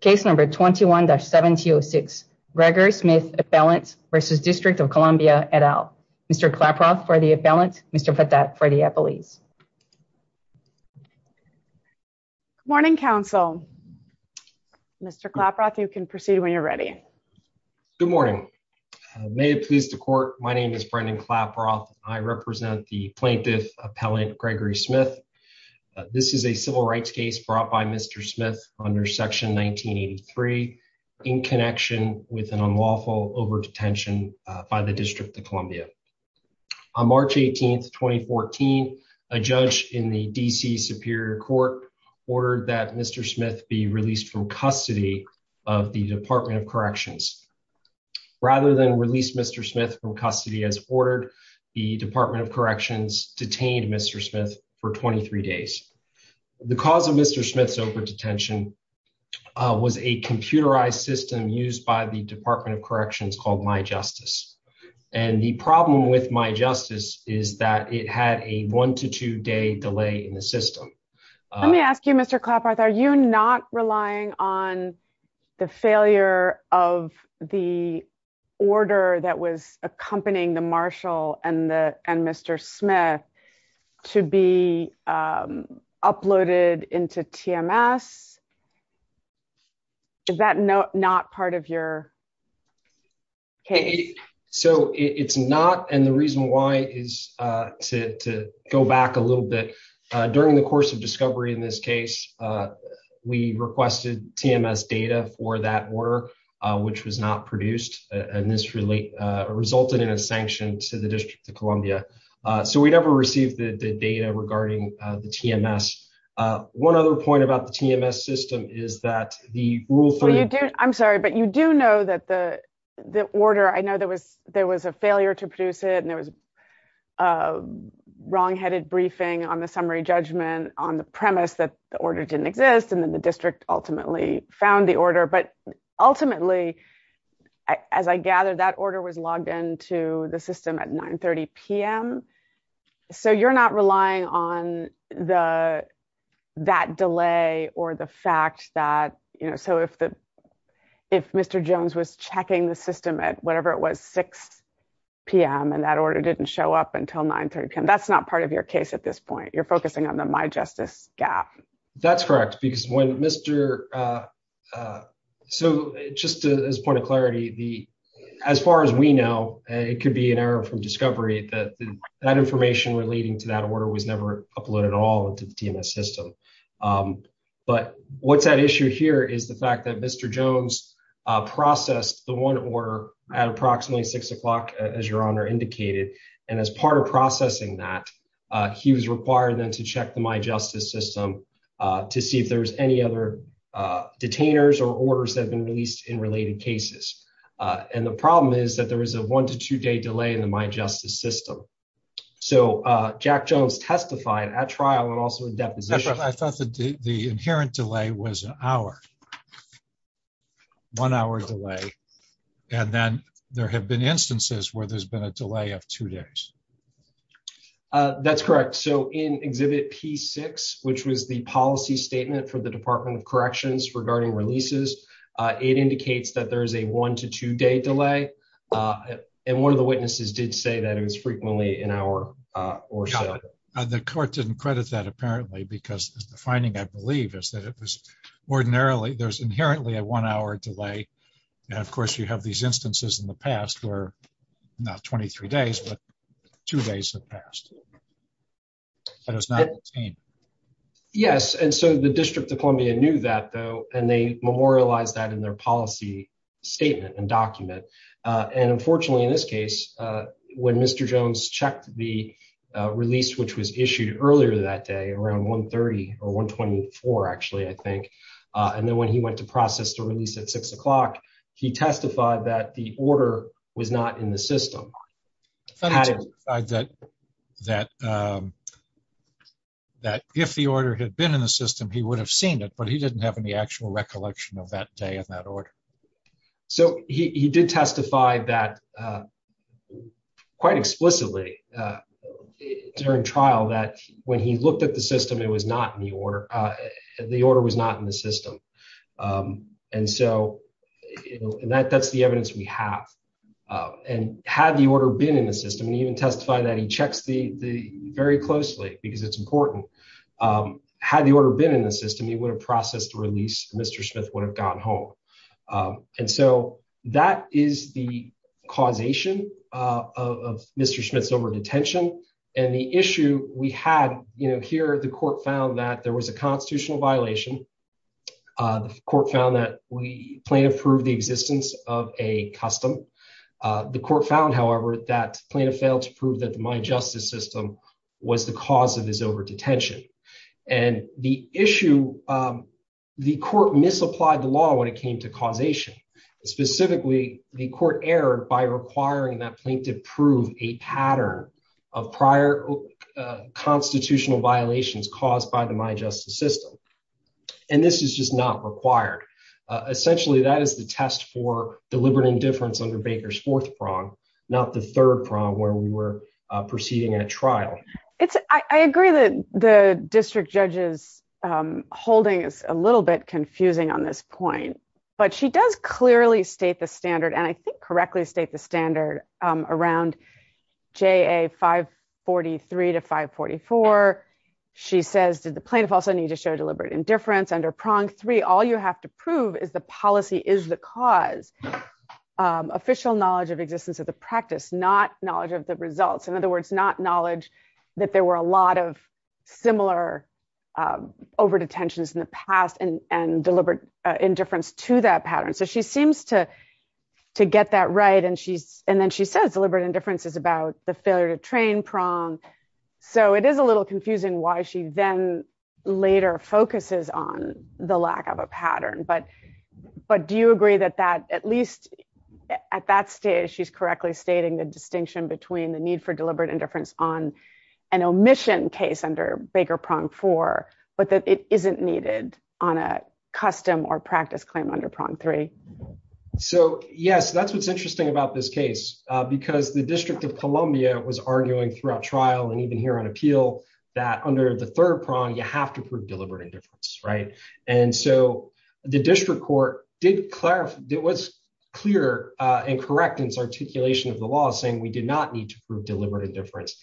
Case number 21-7206 Gregory Smith Appellant versus District of Columbia, et al. Mr. Klaproth for the appellant, Mr. Patat for the appellees. Good morning, counsel. Mr. Klaproth, you can proceed when you're ready. Good morning. May it please the court, my name is Brendan Klaproth. I represent the plaintiff Appellant Gregory Smith. This is a civil rights case brought by Mr. Smith under Section 1983 in connection with an unlawful over-detention by the District of Columbia. On March 18, 2014, a judge in the D.C. Superior Court ordered that Mr. Smith be released from custody of the Department of Corrections. Rather than release Mr. Smith from custody as ordered, the Department of Corrections detained Mr. Smith for 23 days. The cause of Mr. Smith's over-detention was a computerized system used by the Department of Corrections called MyJustice. And the problem with MyJustice is that it had a one to two day delay in the system. Let me ask you, Mr. Klaproth, are you not relying on the failure of the order that was accompanying the marshal and Mr. Smith to be uploaded into TMS? Is that not part of your case? So it's not, and the reason why is to go back a little bit. During the course of discovery in this case, we requested TMS data for that order, which was not produced, and this resulted in a sanction to the District of Columbia. So we never received the data regarding the TMS. One other point about the TMS system is that the Rule 3... I'm sorry, but you do know that the order, I know there was a failure to produce it and there was a wrongheaded briefing on the summary judgment on the premise that the order didn't exist, and then the district ultimately found the order. But ultimately, as I gather, that order was logged into the system at 9.30 p.m. So you're not relying on that delay or the fact that... So if Mr. Jones was checking the system at whatever it was, 6 p.m., and that order didn't show up until 9.30 p.m., that's not part of your case at this point. You're focusing on the My Justice gap. That's correct, because when Mr... So just as a point of clarity, as far as we know, it could be an error from discovery that that information relating to that order was never uploaded at all into the TMS system. But what's at issue here is the fact that Mr. Jones processed the one order at approximately 6 o'clock, as Your Honor indicated, and as part of processing that, he was required then to check the My Justice system to see if there was any other detainers or orders that had been released in related cases. And the problem is that there was a one to two delay in the My Justice system. So Jack Jones testified at trial and also in deposition... I thought the inherent delay was an hour, one hour delay, and then there have been instances where there's been a delay of two days. That's correct. So in Exhibit P6, which was the policy statement for the Department of Corrections regarding releases, it indicates that there is a one to two day delay. And one of the witnesses did say that it was frequently an hour or so. The court didn't credit that apparently, because the finding, I believe, is that it was ordinarily... There's inherently a one hour delay. And of course, you have these instances in the past where not 23 days, but two days have passed. And it was not detained. Yes. And so the District of Columbia knew that though, and they memorialized that in their policy statement and document. And unfortunately, in this case, when Mr. Jones checked the release, which was issued earlier that day around 1.30 or 1.24 actually, I think, and then when he went to process the release at six o'clock, he testified that the order was not in the system. That if the order had been in the system, he would have seen it, but he didn't have any actual recollection of that day of that order. So he did testify that quite explicitly during trial that when he looked at the system, it was not in the order. The order was not in the system. And that's the evidence we have. And had the order been in the system, he even testified that he checks very closely because it's important. Had the order been in the system, he would have processed the release, Mr. Smith would have gone home. And so that is the causation of Mr. Smith's number of detention. And the issue we had here, the court found that there was a constitutional violation. The court found that the plaintiff proved the existence of a custom. The court found, however, that plaintiff failed to prove that the mine justice system was the cause of his over-detention. And the issue, the court misapplied the law when it came to causation. Specifically, the court erred by requiring that the plaintiff prove a pattern of prior constitutional violations caused by the mine justice system. And this is just not required. Essentially, that is the test for deliberate indifference under Baker's fourth prong, not the third prong where we were proceeding at trial. I agree that the district judge's holding is a little bit confusing on this point, but she does clearly state the standard and I think correctly state the standard around JA 543 to 544. She says, did the plaintiff also need to show deliberate indifference under prong three? All you have to prove is the policy is the cause. Official knowledge of existence of the practice, not knowledge of the results. In other words, not knowledge that there were a lot of similar over-detentions in the past and deliberate indifference to that pattern. So she seems to get that right. And then she says deliberate indifference is about the failure to train prong. So it is a little confusing why she then later focuses on the lack of a pattern. But do you agree that at least at that stage, she's correctly stating the distinction between the need for deliberate indifference on an omission case under Baker prong four, but that it isn't needed on a custom or practice claim under prong three? So yes, that's what's interesting about this case because the district of Columbia was arguing throughout trial and even here on appeal that under the third prong, you have to prove deliberate indifference, right? And so the district court did clarify, it was clear and correct in its of the law saying we did not need to prove deliberate indifference.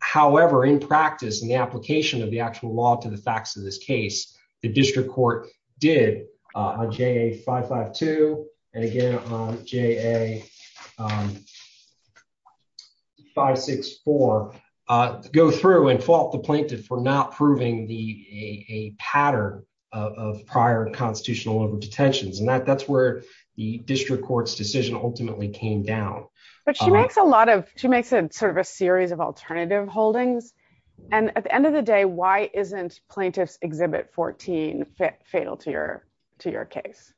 However, in practice, in the application of the actual law to the facts of this case, the district court did on JA552, and again on JA564, go through and fault the plaintiff for not proving a pattern of prior constitutional over-detentions. And that's where the district court's decision ultimately came down. But she makes a lot of, she makes a sort of a series of alternative holdings. And at the end of the day, why isn't plaintiff's exhibit 14 fatal to your case?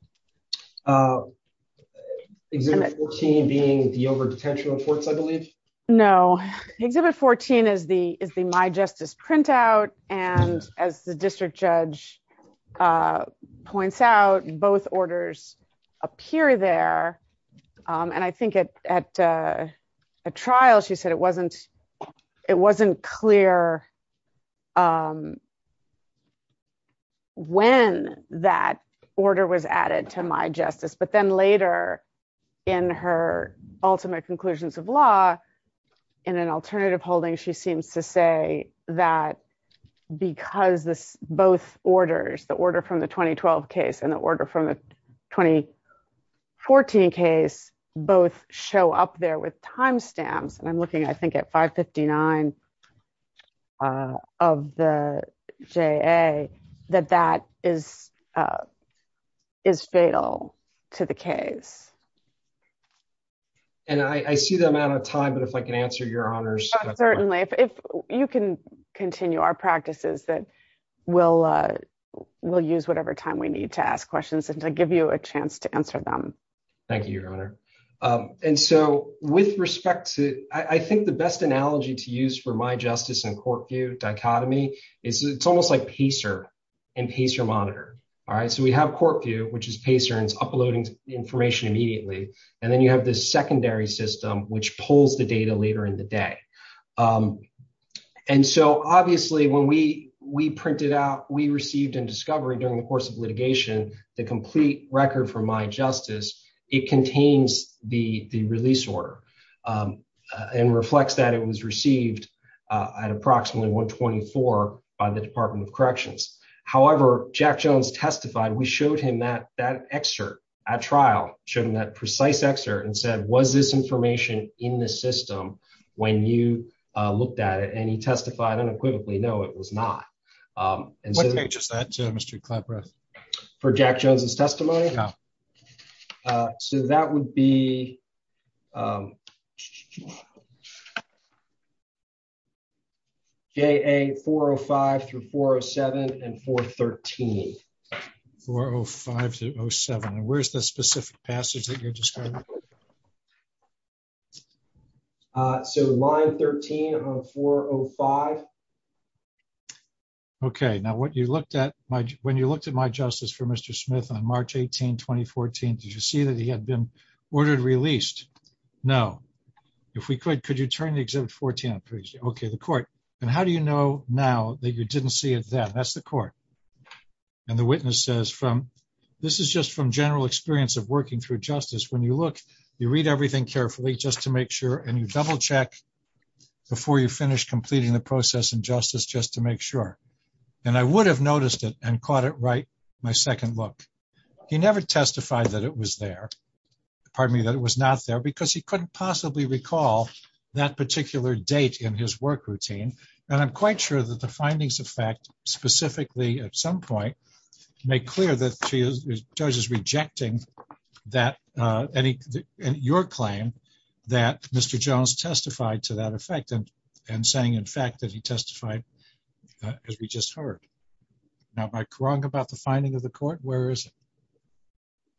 Exhibit 14 being the over-detention reports, I believe? No. Exhibit 14 is the my justice printout. And as the district judge points out, both orders appear there. And I think at a trial, she said it wasn't clear when that order was added to my justice, but then later in her ultimate conclusions of law, in an alternative holding, she seems to say that because both orders, the order from the 2012 case and the order from the 2014 case, both show up there with timestamps. And I'm looking, I think, at 559 of the JA, that that is fatal to the case. And I see the amount of time, but if I can answer your honors. Certainly. If you can continue our practices, that we'll use whatever time we need to ask questions and to give you a chance to answer them. Thank you, your honor. And so with respect to, I think the best analogy to use for my justice and court view dichotomy is it's almost like Pacer and Pacer monitor. All right. So we have court view, which is Pacer and it's uploading information immediately. And then you have this secondary system, which pulls the data later in the day. And so obviously when we printed out, we received in discovery during the course of litigation, the complete record from my justice, it contains the release order and reflects that it was received at approximately 124 by the department of corrections. However, Jack Jones testified. We showed him that that excerpt at trial showed him that precise excerpt and said, was this information in the system when you looked at it? He testified unequivocally. No, it was not. Um, what page is that? Mr. Clapworth for Jack Jones's testimony. Uh, so that would be, um, J a four Oh five through four Oh seven and four 13, four Oh five to Oh seven. And where's the five. Okay. Now what you looked at my, when you looked at my justice for Mr. Smith on March 18, 2014, did you see that he had been ordered released? No. If we could, could you turn the exhibit 14? Okay. The court. And how do you know now that you didn't see it then that's the court and the witness says from, this is just from general experience of working through justice. When you look, you read everything carefully just to make sure. And you double check before you completing the process and justice just to make sure. And I would have noticed it and caught it right. My second look, he never testified that it was there. Pardon me, that it was not there because he couldn't possibly recall that particular date in his work routine. And I'm quite sure that the findings of fact specifically at some point make clear that she judges rejecting that, uh, any, and your claim that Mr. Jones testified to that effect and, and saying, in fact, that he testified, uh, as we just heard now by Krong about the finding of the court, where is it?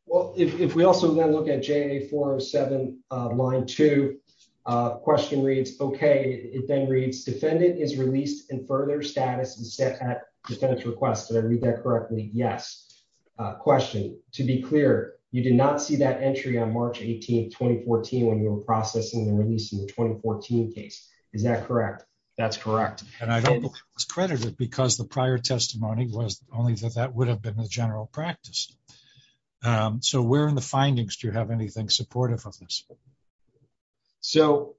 Well, if, if we also then look at J four seven, uh, line two, uh, question reads, okay. It then reads defendant is released in further status and set at defense requests. Did I read that correctly? Yes. Uh, question to be clear, you did not see that entry on March 18th, 2014, when you were processing the release in the 2014 case. Is that correct? That's correct. And I don't think it was credited because the prior testimony was only that that would have been a general practice. Um, so where in the findings do you have anything supportive of this? So,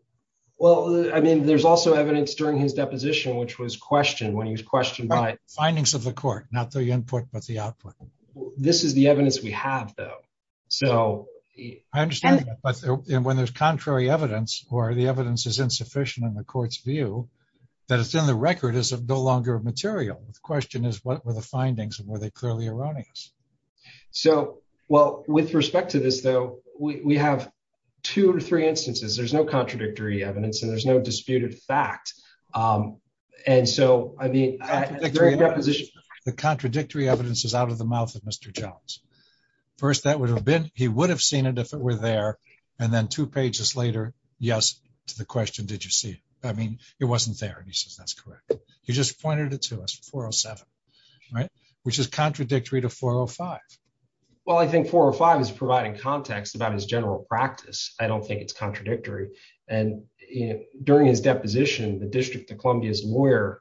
well, I mean, there's also evidence during his deposition, which was questioned when he was findings of the court, not the input, but the output. This is the evidence we have though. So I understand that when there's contrary evidence or the evidence is insufficient in the court's view that it's in the record is no longer material. The question is what were the findings and were they clearly erroneous? So, well, with respect to this, though, we have two or three instances, there's no contradictory evidence and there's no disputed fact. Um, and so, I mean, position, the contradictory evidence is out of the mouth of Mr. Jones. First, that would have been, he would have seen it if it were there. And then two pages later, yes to the question, did you see it? I mean, it wasn't there and he says, that's correct. He just pointed it to us 407, right? Which is contradictory to 405. Well, I think four or five is providing context about his general practice. I don't think it's contradictory. And during his deposition, the district of Columbia's lawyer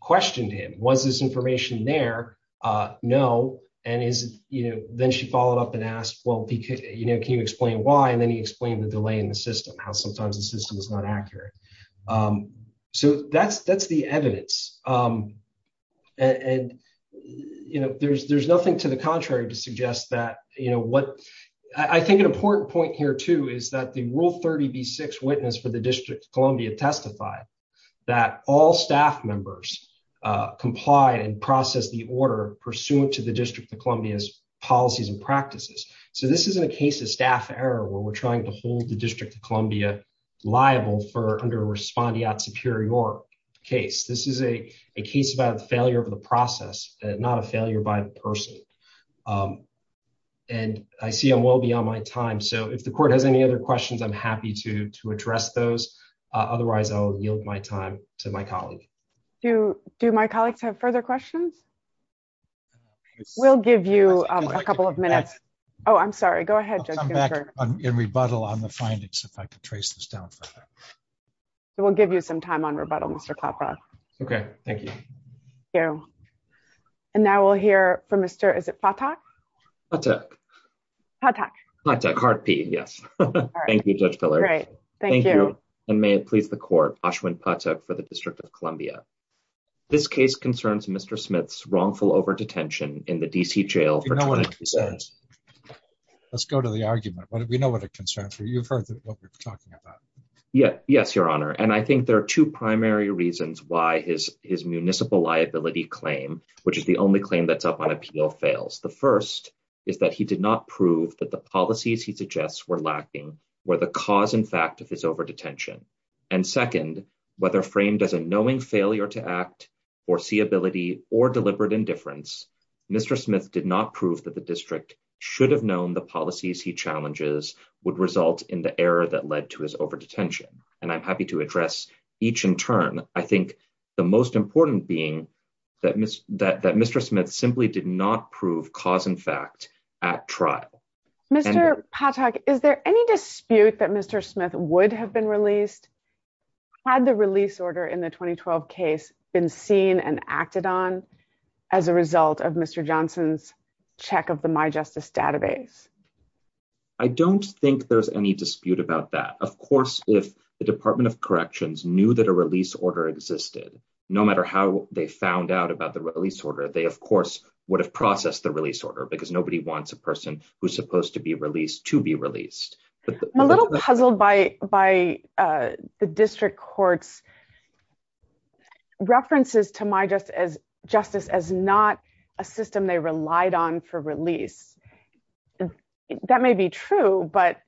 questioned him, was this information there? Uh, no. And is, you know, then she followed up and asked, well, you know, can you explain why? And then he explained the delay in the system, how sometimes the system is not accurate. Um, so that's, that's the evidence. Um, and, you know, there's, there's nothing to the contrary to suggest that, you know, what I think an important point here too, is that the rule 30 B six witness for the that all staff members, uh, comply and process the order pursuant to the district of Columbia's policies and practices. So this isn't a case of staff error where we're trying to hold the district of Columbia liable for under respondeat superior case. This is a case about the failure of the process, not a failure by the person. Um, and I see I'm well beyond my time. So if the court has any other questions, I'm happy to, to address those. Uh, otherwise I'll yield my time to my colleague. Do, do my colleagues have further questions? We'll give you a couple of minutes. Oh, I'm sorry. Go ahead and rebuttal on the findings. If I could trace this down for we'll give you some time on rebuttal, Mr. Papa. Okay. Thank you. Yeah. And now we'll hear from thank you. Judge Pillar. Thank you. And may it please the court for the district of Columbia. This case concerns Mr. Smith's wrongful over-detention in the DC jail. Let's go to the argument. What did we know what a concern for you? You've heard what we're talking about. Yeah. Yes, your honor. And I think there are two primary reasons why his, his municipal liability claim, which is the only claim that's up on appeal fails. The first is that he did not prove that the policies he suggests were lacking where the cause in fact of his over-detention and second, whether framed as a knowing failure to act or see ability or deliberate indifference, Mr. Smith did not prove that the district should have known the policies he challenges would result in the error that led to his over-detention. And I'm happy to address each in turn. I think the most important being that, that, that Mr. Smith simply did not prove cause in fact at trial. Mr. Patak, is there any dispute that Mr. Smith would have been released? Had the release order in the 2012 case been seen and acted on as a result of Mr. Johnson's check of the my justice database? I don't think there's any dispute about that. Of course, if the department of existed, no matter how they found out about the release order, they of course would have processed the release order because nobody wants a person who's supposed to be released to be released. I'm a little puzzled by, by the district courts references to my just as justice, as not a system they relied on for release. That may be true, but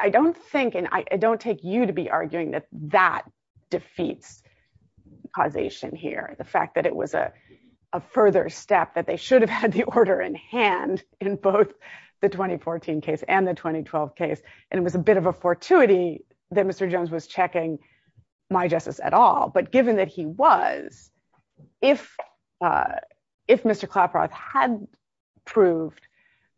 I don't think, and I don't take you to be arguing that that defeats causation here. The fact that it was a, a further step that they should have had the order in hand in both the 2014 case and the 2012 case. And it was a bit of a fortuity that Mr. Jones was checking my justice at all, but given that he was, if if Mr. Claproth had proved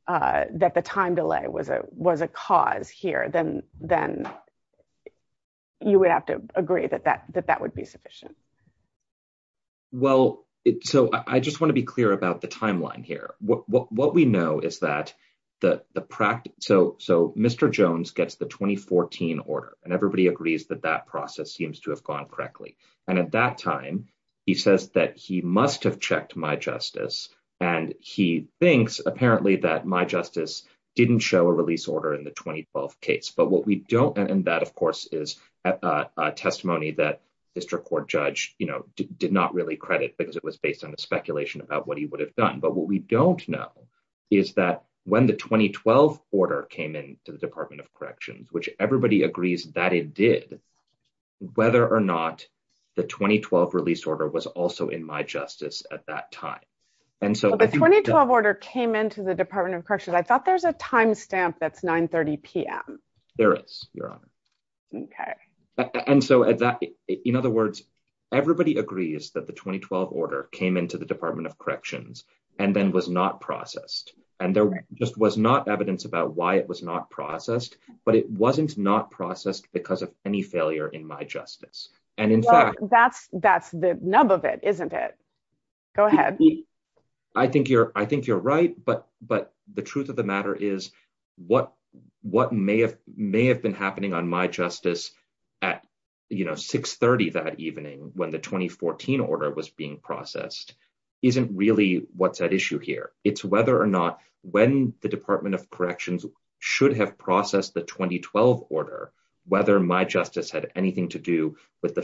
that the time delay was a, was a cause here, then, then you would have to agree that that, that that would be sufficient. Well, so I just want to be clear about the timeline here. What, what we know is that the, the practice, so, so Mr. Jones gets the 2014 order and everybody agrees that that process seems to have gone correctly. And at that time, he says that he must have and he thinks apparently that my justice didn't show a release order in the 2012 case. But what we don't, and that of course is a testimony that district court judge, you know, did not really credit because it was based on a speculation about what he would have done. But what we don't know is that when the 2012 order came in to the department of corrections, which everybody And so the 2012 order came into the department of corrections. I thought there's a timestamp. That's 9 30 PM. There is your honor. Okay. And so at that, in other words, everybody agrees that the 2012 order came into the department of corrections and then was not processed. And there just was not evidence about why it was not processed, but it wasn't not processed because of any failure in my justice. And in fact, that's, that's the nub of it, isn't it? Go ahead. I think you're, I think you're right, but, but the truth of the matter is what, what may have may have been happening on my justice at, you know, six 30 that evening when the 2014 order was being processed. Isn't really what's at issue here. It's whether or not when the department of corrections should have processed the 2012 order, whether my justice had anything to do with the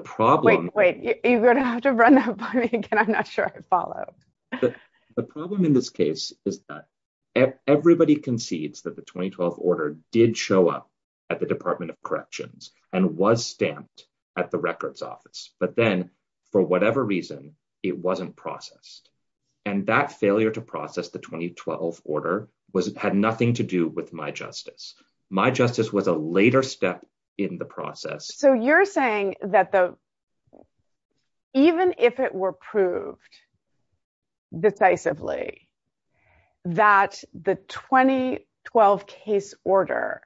problem. Wait, wait, you're going to have to run that by me again. I'm not sure I followed the problem in this case is that everybody concedes that the 2012 order did show up at the department of corrections and was stamped at the records office, but then for whatever reason, it wasn't processed. And that failure to process the 2012 order was, had nothing to do with my justice was a later step in the process. So you're saying that the, even if it were proved decisively that the 2012 case order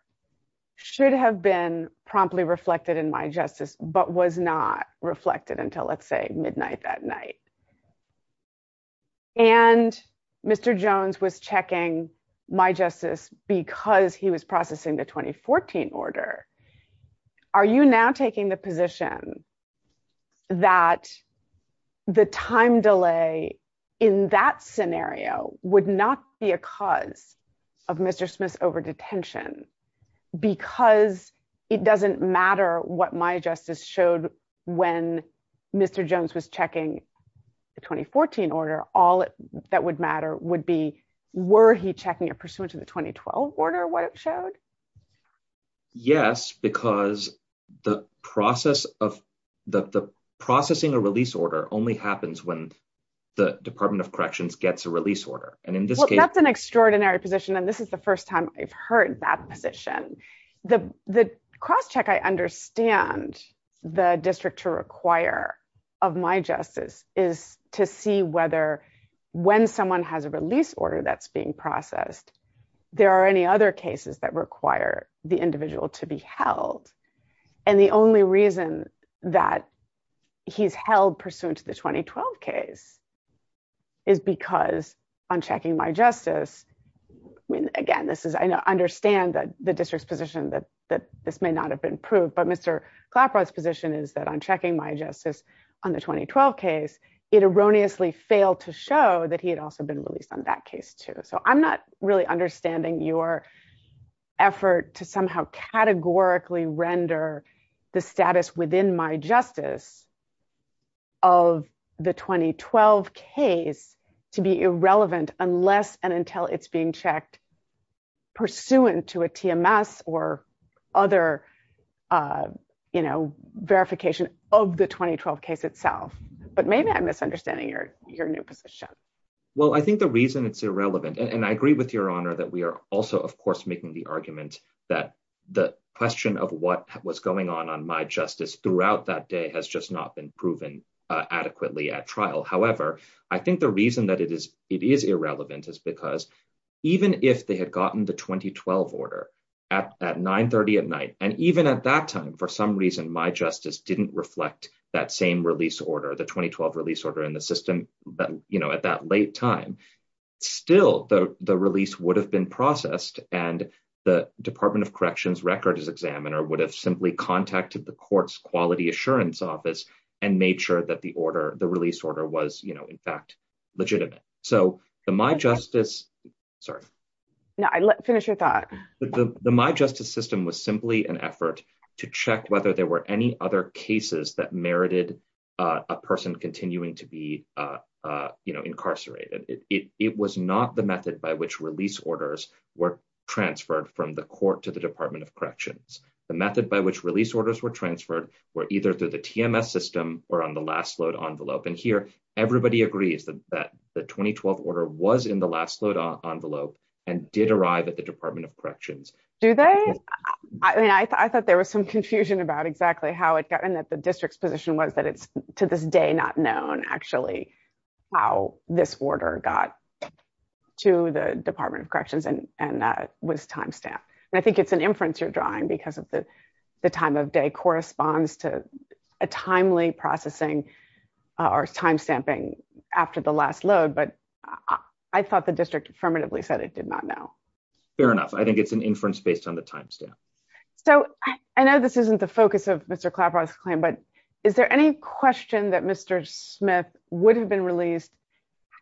should have been promptly reflected in my justice, but was not reflected until let's say midnight that night. And Mr. Jones was checking my justice because he was processing the 2014 order. Are you now taking the position that the time delay in that scenario would not be a cause of Mr. Smith's over detention, because it doesn't matter what my justice showed when Mr. Jones was checking the 2014 order, all that would matter would be, were he checking a pursuant to the 2012 order? What it showed? Yes, because the process of the processing, a release order only happens when the department of corrections gets a release order. And in this case, that's an extraordinary position. And this is the first time I've heard that position, the cross check. I understand the district to require of my justice is to see whether when someone has a release order that's being processed, there are any other cases that require the individual to be held. And the only reason that he's held pursuant to the 2012 case is because on checking my justice. I mean, again, his position is that I'm checking my justice on the 2012 case. It erroneously failed to show that he had also been released on that case too. So I'm not really understanding your effort to somehow categorically render the status within my justice of the 2012 case to be irrelevant unless and until it's being checked pursuant to a TMS or other verification of the 2012 case itself. But maybe I'm misunderstanding your new position. Well, I think the reason it's irrelevant, and I agree with your honor that we are also, of course, making the argument that the question of what was going on on my justice throughout that day has just not been proven adequately at trial. However, I think the reason that it is irrelevant is because even if they had gotten the 2012 order at 930 at night, and even at that time, for some reason, my justice didn't reflect that same release order, the 2012 release order in the system at that late time, still the release would have been processed and the Department of Corrections records examiner would have simply contacted the court's quality assurance office and made sure that the order, the release order was, you know, in fact, legitimate. So the my justice, sorry. No, finish your thought. But the my justice system was simply an effort to check whether there were any other cases that merited a person continuing to be, you know, incarcerated. It was not the method by which release orders were transferred from the court to the Department of Corrections. The method by which release orders were transferred were either through the TMS system or on the last load envelope. And here, everybody agrees that the 2012 order was in the last load envelope and did arrive at the Department of Corrections. Do they? I mean, I thought there was some confusion about exactly how it got in that the district's position was that it's to this day not known actually how this order got to the Department of Corrections. And that was timestamp. And I think it's an inference you're drawing because of the time of day corresponds to a timely processing or timestamping after the last load. But I thought the district affirmatively said it did not know. Fair enough. I think it's an inference based on the timestamp. So I know this isn't the focus of Mr. Clapper's claim, but is there any question that Mr. Smith would have been released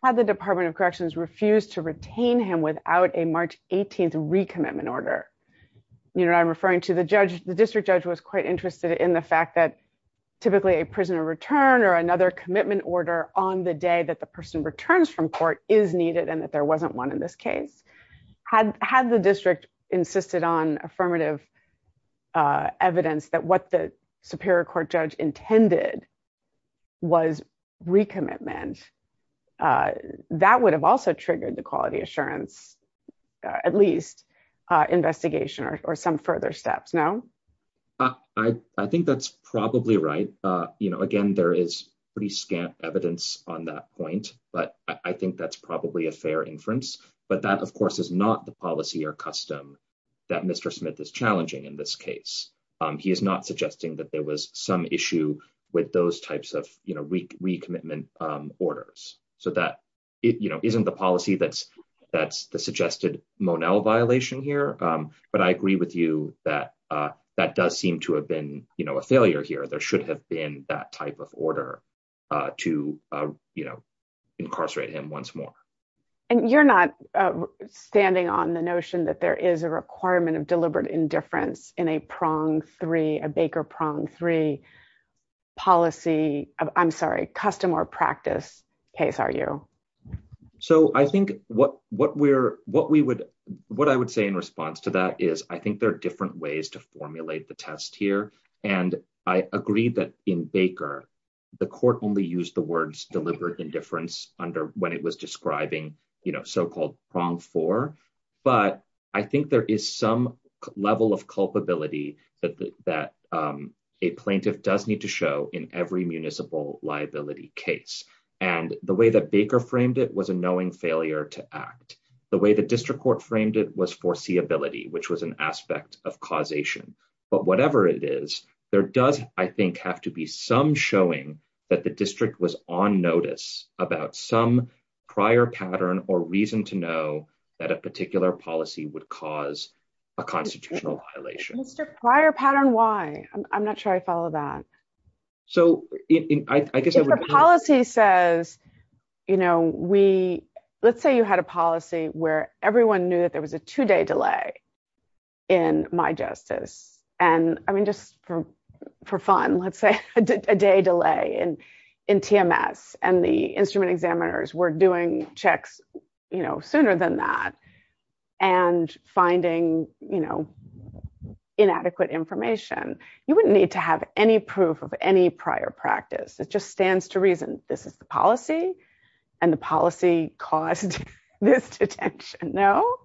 had the Department of Corrections refused to retain him without a March 18th recommitment order? I'm referring to the district judge was quite interested in the fact that typically a prisoner return or another commitment order on the day that the person returns from court is needed and that there wasn't one in this case. Had the district insisted on affirmative evidence that what the superior court judge intended was recommitment, that would have also triggered the quality assurance at least investigation or some further steps, no? I think that's probably right. You know, again, there is pretty scant evidence on that point, but I think that's probably a fair inference. But that, of course, is not the policy or custom that Mr. Smith is challenging in this case. He is not suggesting that there was some issue with those types of recommitment orders. So that isn't the policy that's the suggested Monell violation here. But I agree with you that that does seem to have been a failure here. There should have been that type of order to incarcerate him once more. And you're not standing on the notion that there is a requirement of deliberate indifference in a Baker prong three policy, I'm sorry, custom or practice case, are you? So I think what I would say in response to that is I think there are different ways to formulate the test here. And I agree that in Baker, the court only used the words deliberate indifference under when it was describing so-called prong four. But I think there is some level of culpability that a plaintiff does need to show in every municipal liability case. And the way that Baker framed it was a knowing failure to act. The way the district court framed it was foreseeability, which was an aspect of causation. But whatever it is, there does, I think, have to be some showing that the district was on notice about some prior pattern or reason to know that a particular policy would cause a constitutional violation. Mr. Prior pattern, why? I'm not sure I follow that. So I guess the policy says, let's say you had a policy where everyone knew that there was a two day delay in my justice. And I mean, just for fun, let's say a day delay in TMS and the instrument finding, you know, inadequate information, you wouldn't need to have any proof of any prior practice. It just stands to reason this is the policy and the policy caused this detention. No,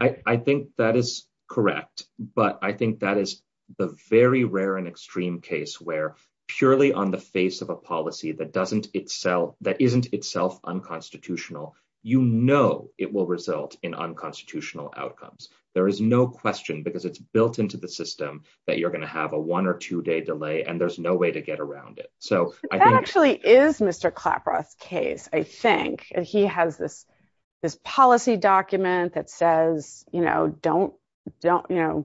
I think that is correct. But I think that is the very rare and extreme case where purely on the face of a policy that doesn't itself that isn't itself unconstitutional, you know, it will result in unconstitutional outcomes. There is no question because it's built into the system that you're going to have a one or two day delay, and there's no way to get around it. So that actually is Mr. Claproth's case, I think he has this, this policy document that says, you know, don't don't, you know,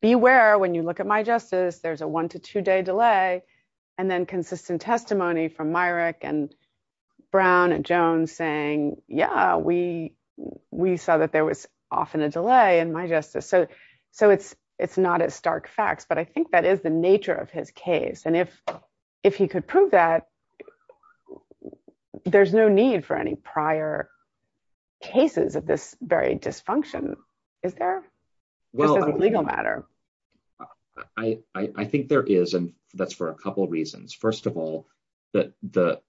beware, when you look at my justice, there's a one to two day delay. And then consistent testimony from Myrick and Brown and Jones saying, yeah, we, we saw that there was often a delay in my justice. So, so it's, it's not as stark facts. But I think that is the nature of his case. And if, if he could prove that there's no need for any prior cases of this very dysfunction, is there? Well, as a legal matter, I think there is. And that's for a couple reasons. First of all, that the,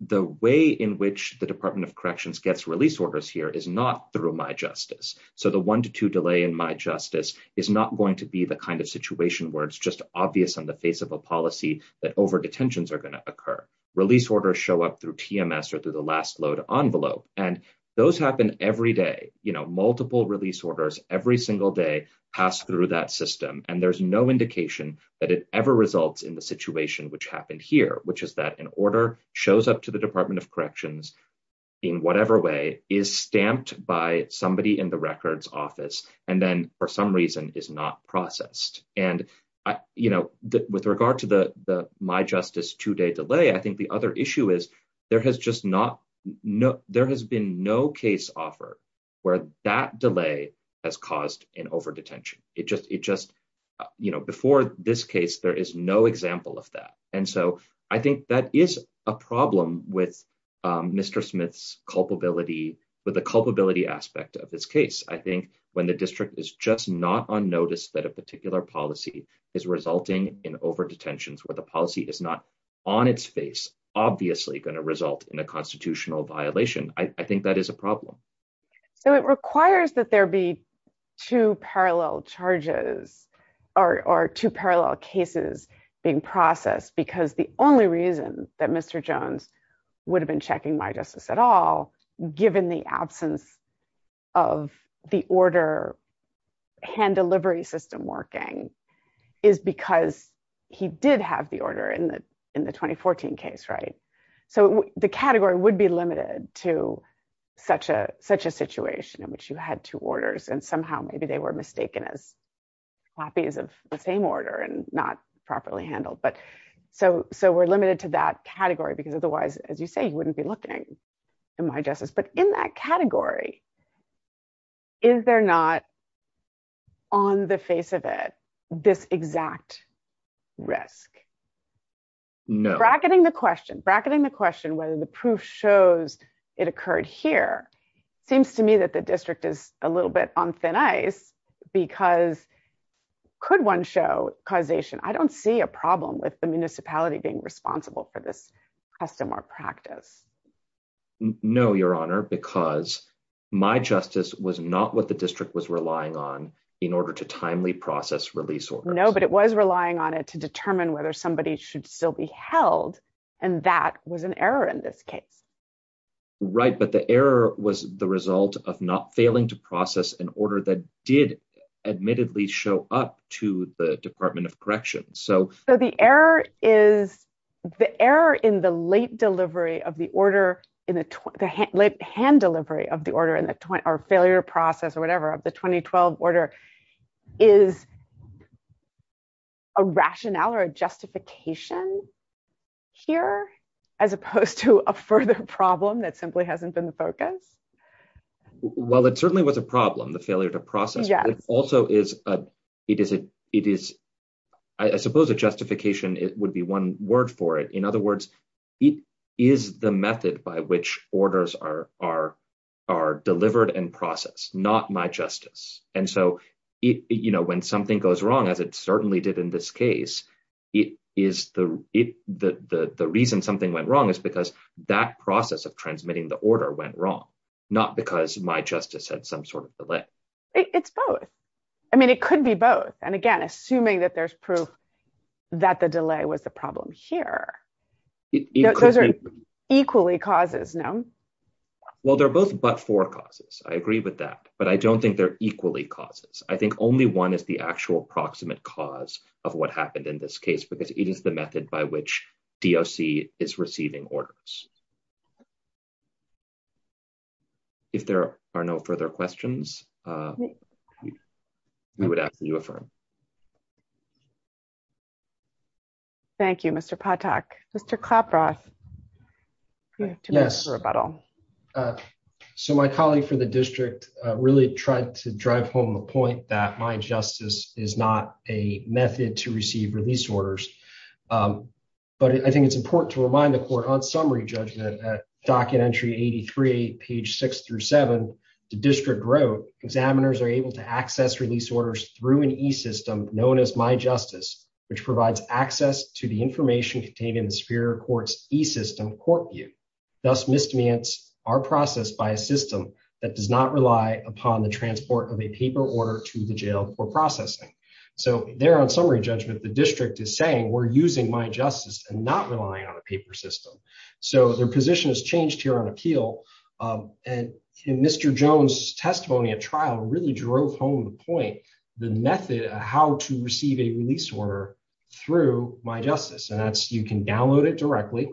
the way in which the Department of Corrections gets release orders here is not through my justice. So the one to two delay in my justice is not going to be the kind of situation where it's just obvious on the face of a policy that over detentions are going to occur, release orders show up through TMS or through the last load envelope. And those happen every day, you know, multiple release orders every single day, pass through that system. And there's no indication that it ever results in the situation which happened here, which is that an order shows up to the Department of Corrections, in whatever way is stamped by somebody in the records office, and then for some reason is not processed. And I, you know, that with regard to the the my justice two day delay, I think the other issue is, there has just not no, there has been no case offer, where that delay has caused an over detention, it just it just, you know, before this case, there is no example of that. And so I think that is a problem with Mr. Smith's culpability, with the culpability aspect of this case, I think, when the district is just not on notice that a particular policy is resulting in over detentions, where the policy is not on its face, obviously going to result in a constitutional violation, I think that is a problem. So it requires that there be two parallel charges, or two parallel cases being processed, because the only reason that Mr. Jones would have been checking my justice at all, given the absence of the order, hand delivery system working, is because he did have the order in the in the 2014 case, right. So the category would be limited to such a such a situation in which you had two orders, and somehow maybe they were mistaken as copies of the same order and not properly handled. But so so we're limited to that category, because otherwise, as you say, you wouldn't be looking in my justice. But in that category, is there not on the face of it, this exact risk? bracketing the question bracketing the question whether the proof shows it occurred here, seems to me that the district is a little bit on thin ice. Because could one show causation, I don't see a problem with the municipality being responsible for this custom or practice. No, Your Honor, because my justice was not what the district was relying on, in order to timely process release or no, but it was relying on it to determine whether somebody should still be held. And that was an error in this case. Right. But the error was the result of not failing to process an order that did admittedly show up to the Department of Correction. So the error is the error in the late delivery of the order in the late hand delivery of the order in the 20 or failure process or whatever of the 2012 order is a rationale or a justification here, as opposed to a further problem that simply hasn't been the focus? Well, it certainly was a problem, the failure to process also is a, it is a, it is, I suppose, a justification, it would be one word for it. In other words, it is the method by which orders are, are, are delivered and process, not my justice. And so it, you know, when something goes wrong, as it certainly did in this case, it is the it, the reason something went wrong is because that process of transmitting the order went wrong. Not because my justice had some sort of delay. It's both. I mean, it could be both. And again, assuming that there's proof that the delay was the problem here, equally causes no. Well, they're both but for causes. I agree with that, but I don't think they're equally causes. I think only one is the actual proximate cause of what happened in this case, because it is the method by which DOC is receiving orders. If there are no further questions, we would ask that you affirm. Thank you, Mr. Patak. Mr. Klaproth. Yes. So my colleague for the district really tried to drive home the point that my justice is not a method to receive release orders. But I think it's important to remind the court on summary judgment at document entry 83, page six through seven, the district wrote examiners are able to access release orders through an e-system known as my justice, which provides access to the information contained in the superior courts e-system court view. Thus misdemeans are processed by a system that does not rely upon the transport of a paper order to the jail for processing. So there on summary judgment, the district is saying we're using my justice and not relying on a paper system. So their position has changed here on appeal. And Mr. Jones testimony at trial really drove home the point, the method of how to receive a release order through my justice. You can download it directly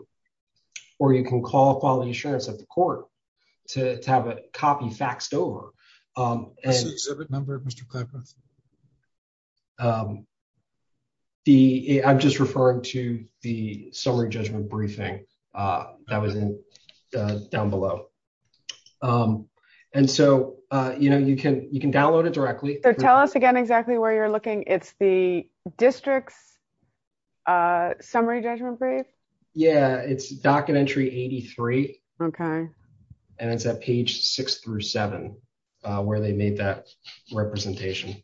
or you can call quality assurance at the court to have a copy faxed over. I'm just referring to the summary judgment briefing that was in down below. And so you can download it directly. So tell us again exactly where you're looking. It's the district's summary judgment brief. Yeah, it's document entry 83. Okay. And it's at page six through seven where they made that representation.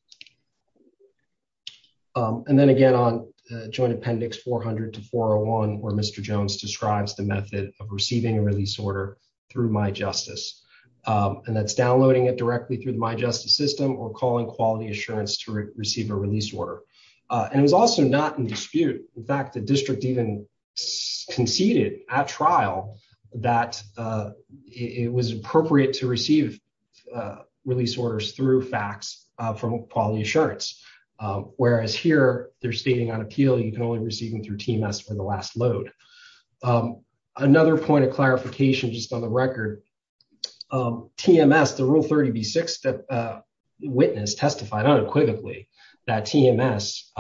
And then again, on joint appendix 400 to 401, where Mr. Jones describes the method of receiving a release order through my justice and that's downloading it directly through my justice or calling quality assurance to receive a release order. And it was also not in dispute. In fact, the district even conceded at trial that it was appropriate to receive release orders through fax from quality assurance. Whereas here they're stating on appeal, you can only receive them through TMS for the last load. Another point of clarification, just on the record, TMS, the rule 30B6 witness testified unequivocally that TMS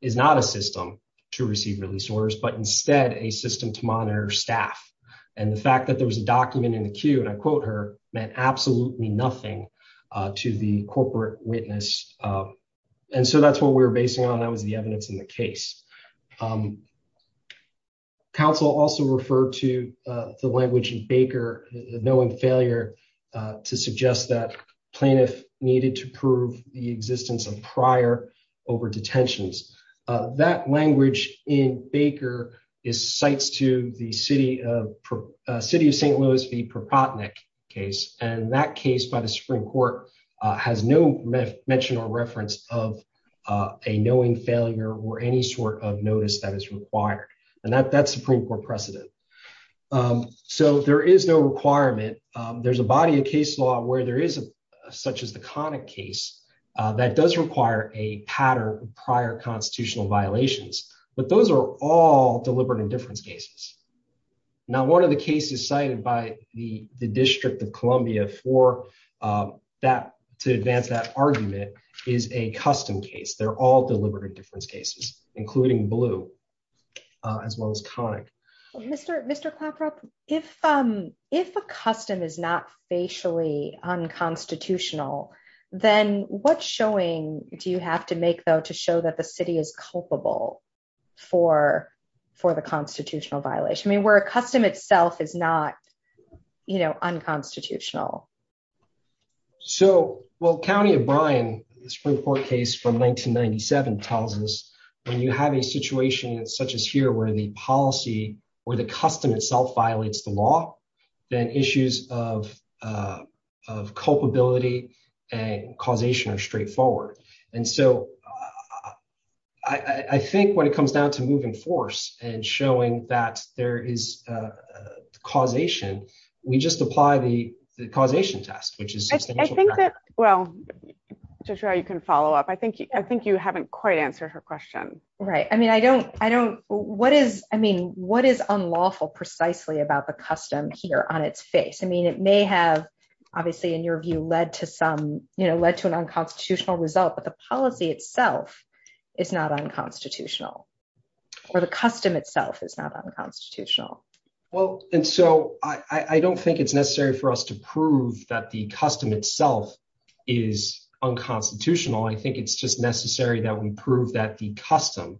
is not a system to receive release orders, but instead a system to monitor staff. And the fact that there was a document in the queue, and I quote her, meant absolutely nothing to the corporate witness. And so that's what we were basing on. That was the evidence in the case. Counsel also referred to the language in Baker, knowing failure to suggest that plaintiff needed to prove the existence of prior over-detentions. That language in Baker is sites to the city of St. Louis v. Propotnick case. And that case by the Supreme Court has no mention or reference of a knowing failure or any sort of notice that is there's a body of case law where there is such as the Connick case that does require a pattern of prior constitutional violations, but those are all deliberate indifference cases. Now, one of the cases cited by the District of Columbia for that to advance that argument is a custom case. They're all deliberate indifference cases, including Blue, as well as Connick. Mr. Claprop, if a custom is not facially unconstitutional, then what showing do you have to make, though, to show that the city is culpable for the constitutional violation? I mean, where a custom itself is not unconstitutional. So, well, county of Bryan, the Supreme Court case from 1997 tells us when you have a situation such as here where the policy or the custom itself violates the law, then issues of culpability and causation are straightforward. And so I think when it comes down to moving force and showing that there is causation, we just apply the causation test, which is substantial. I think that, well, Jethro, you can follow up. I think you haven't quite answered her question. Right. I mean, what is unlawful precisely about the custom here on its face? I mean, it may have, obviously, in your view, led to an unconstitutional result, but the policy itself is not unconstitutional, or the custom itself is not unconstitutional. Well, and so I don't think it's necessary for us to prove that the custom itself is unconstitutional. I think it's just necessary that we prove that the custom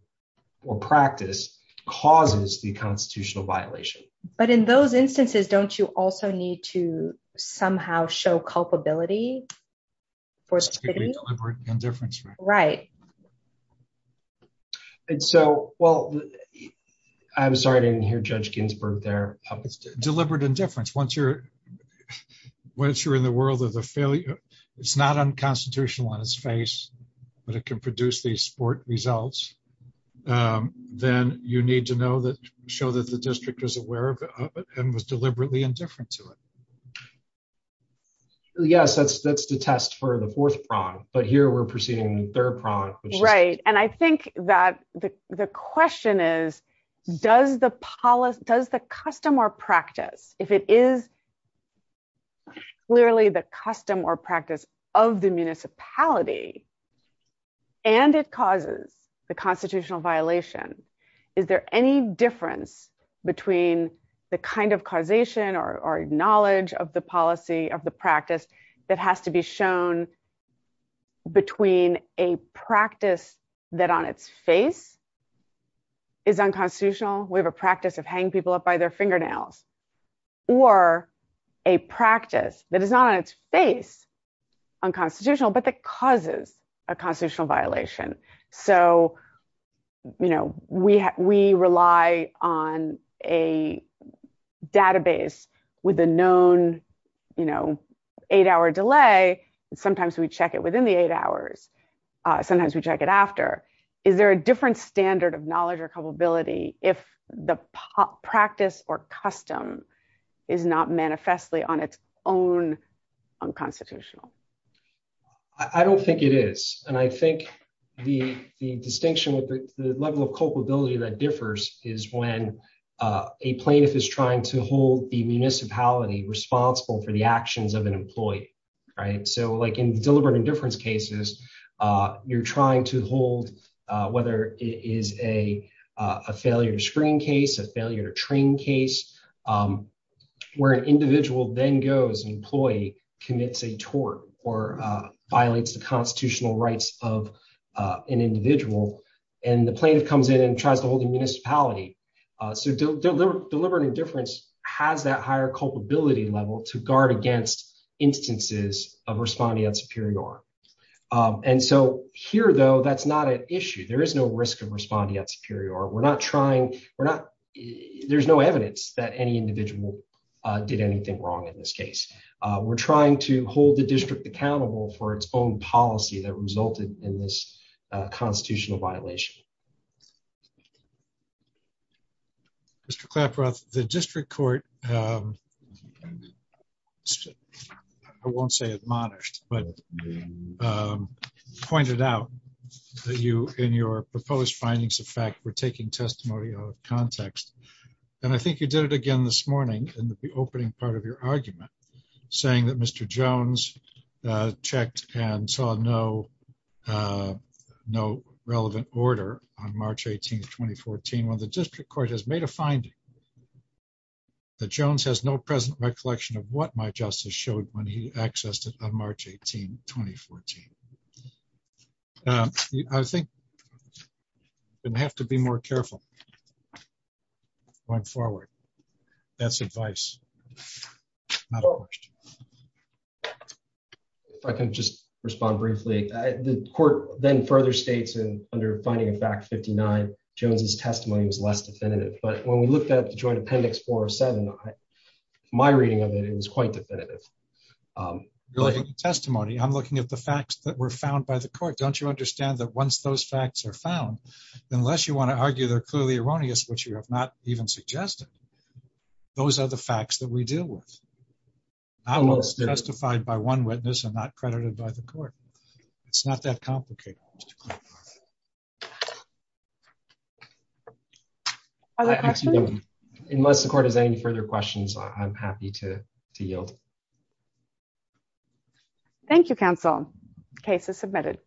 or practice causes the constitutional violation. But in those instances, don't you also need to somehow show culpability for the city? Deliberate indifference. Right. And so, well, I'm sorry, I didn't hear Judge Ginsburg there. Deliberate indifference. Once you're in the world of the failure, it's not unconstitutional on its face, but it can produce these sport results, then you need to know that show that the district is aware of it and was deliberately indifferent to it. Yes, that's the test for the fourth prong, but here we're proceeding to the third prong. Right. And I think that the question is, does the custom or practice, if it is clearly the custom or practice of the municipality, and it causes the constitutional violation, is there any difference between the kind of causation or knowledge of the policy, of the practice that has to be shown between a practice that on its face is unconstitutional, we have a practice of hanging people up by their fingernails, or a practice that is not on its face unconstitutional, but that causes a we rely on a database with a known, you know, eight hour delay. Sometimes we check it within the eight hours. Sometimes we check it after. Is there a different standard of knowledge or culpability if the practice or custom is not manifestly on its own unconstitutional? I don't think it is. And I think the distinction with the level of culpability that differs is when a plaintiff is trying to hold the municipality responsible for the actions of an employee. Right. So like in deliberate indifference cases, you're trying to hold, whether it is a failure to screen case, a failure to train case, where an individual then goes and employee commits a tort or violates the rights of an individual and the plaintiff comes in and tries to hold the municipality. So deliberate indifference has that higher culpability level to guard against instances of respondeat superior. And so here, though, that's not an issue. There is no risk of respondeat superior. We're not trying we're not there's no evidence that any individual did anything wrong in this case. We're trying to hold the district accountable for its own policy that resulted in this constitutional violation. Mr. Claproth, the district court, I won't say admonished, but pointed out that you in your proposed findings of fact, we're taking testimony out of context. And I think you did it again this morning in the opening part of your argument, saying that Mr. Jones checked and saw no, no relevant order on March 18 2014. When the district court has made a finding that Jones has no present recollection of what my justice showed when he accessed it on March 18 2014. I think you have to be more careful going forward. That's advice. If I can just respond briefly, the court then further states and under finding a fact 59 Jones's testimony was less definitive. But when we looked at the joint appendix four or seven, my reading of it, it was quite definitive. testimony, I'm looking at the facts that were found by the court, don't you understand that once those facts are found, unless you want to argue they're clearly erroneous, which you have not even suggested. Those are the facts that we deal with. I was justified by one witness and not credited by the court. It's not that complicated. Unless the court has any further questions, I'm happy to yield. Thank you, counsel. Case is submitted.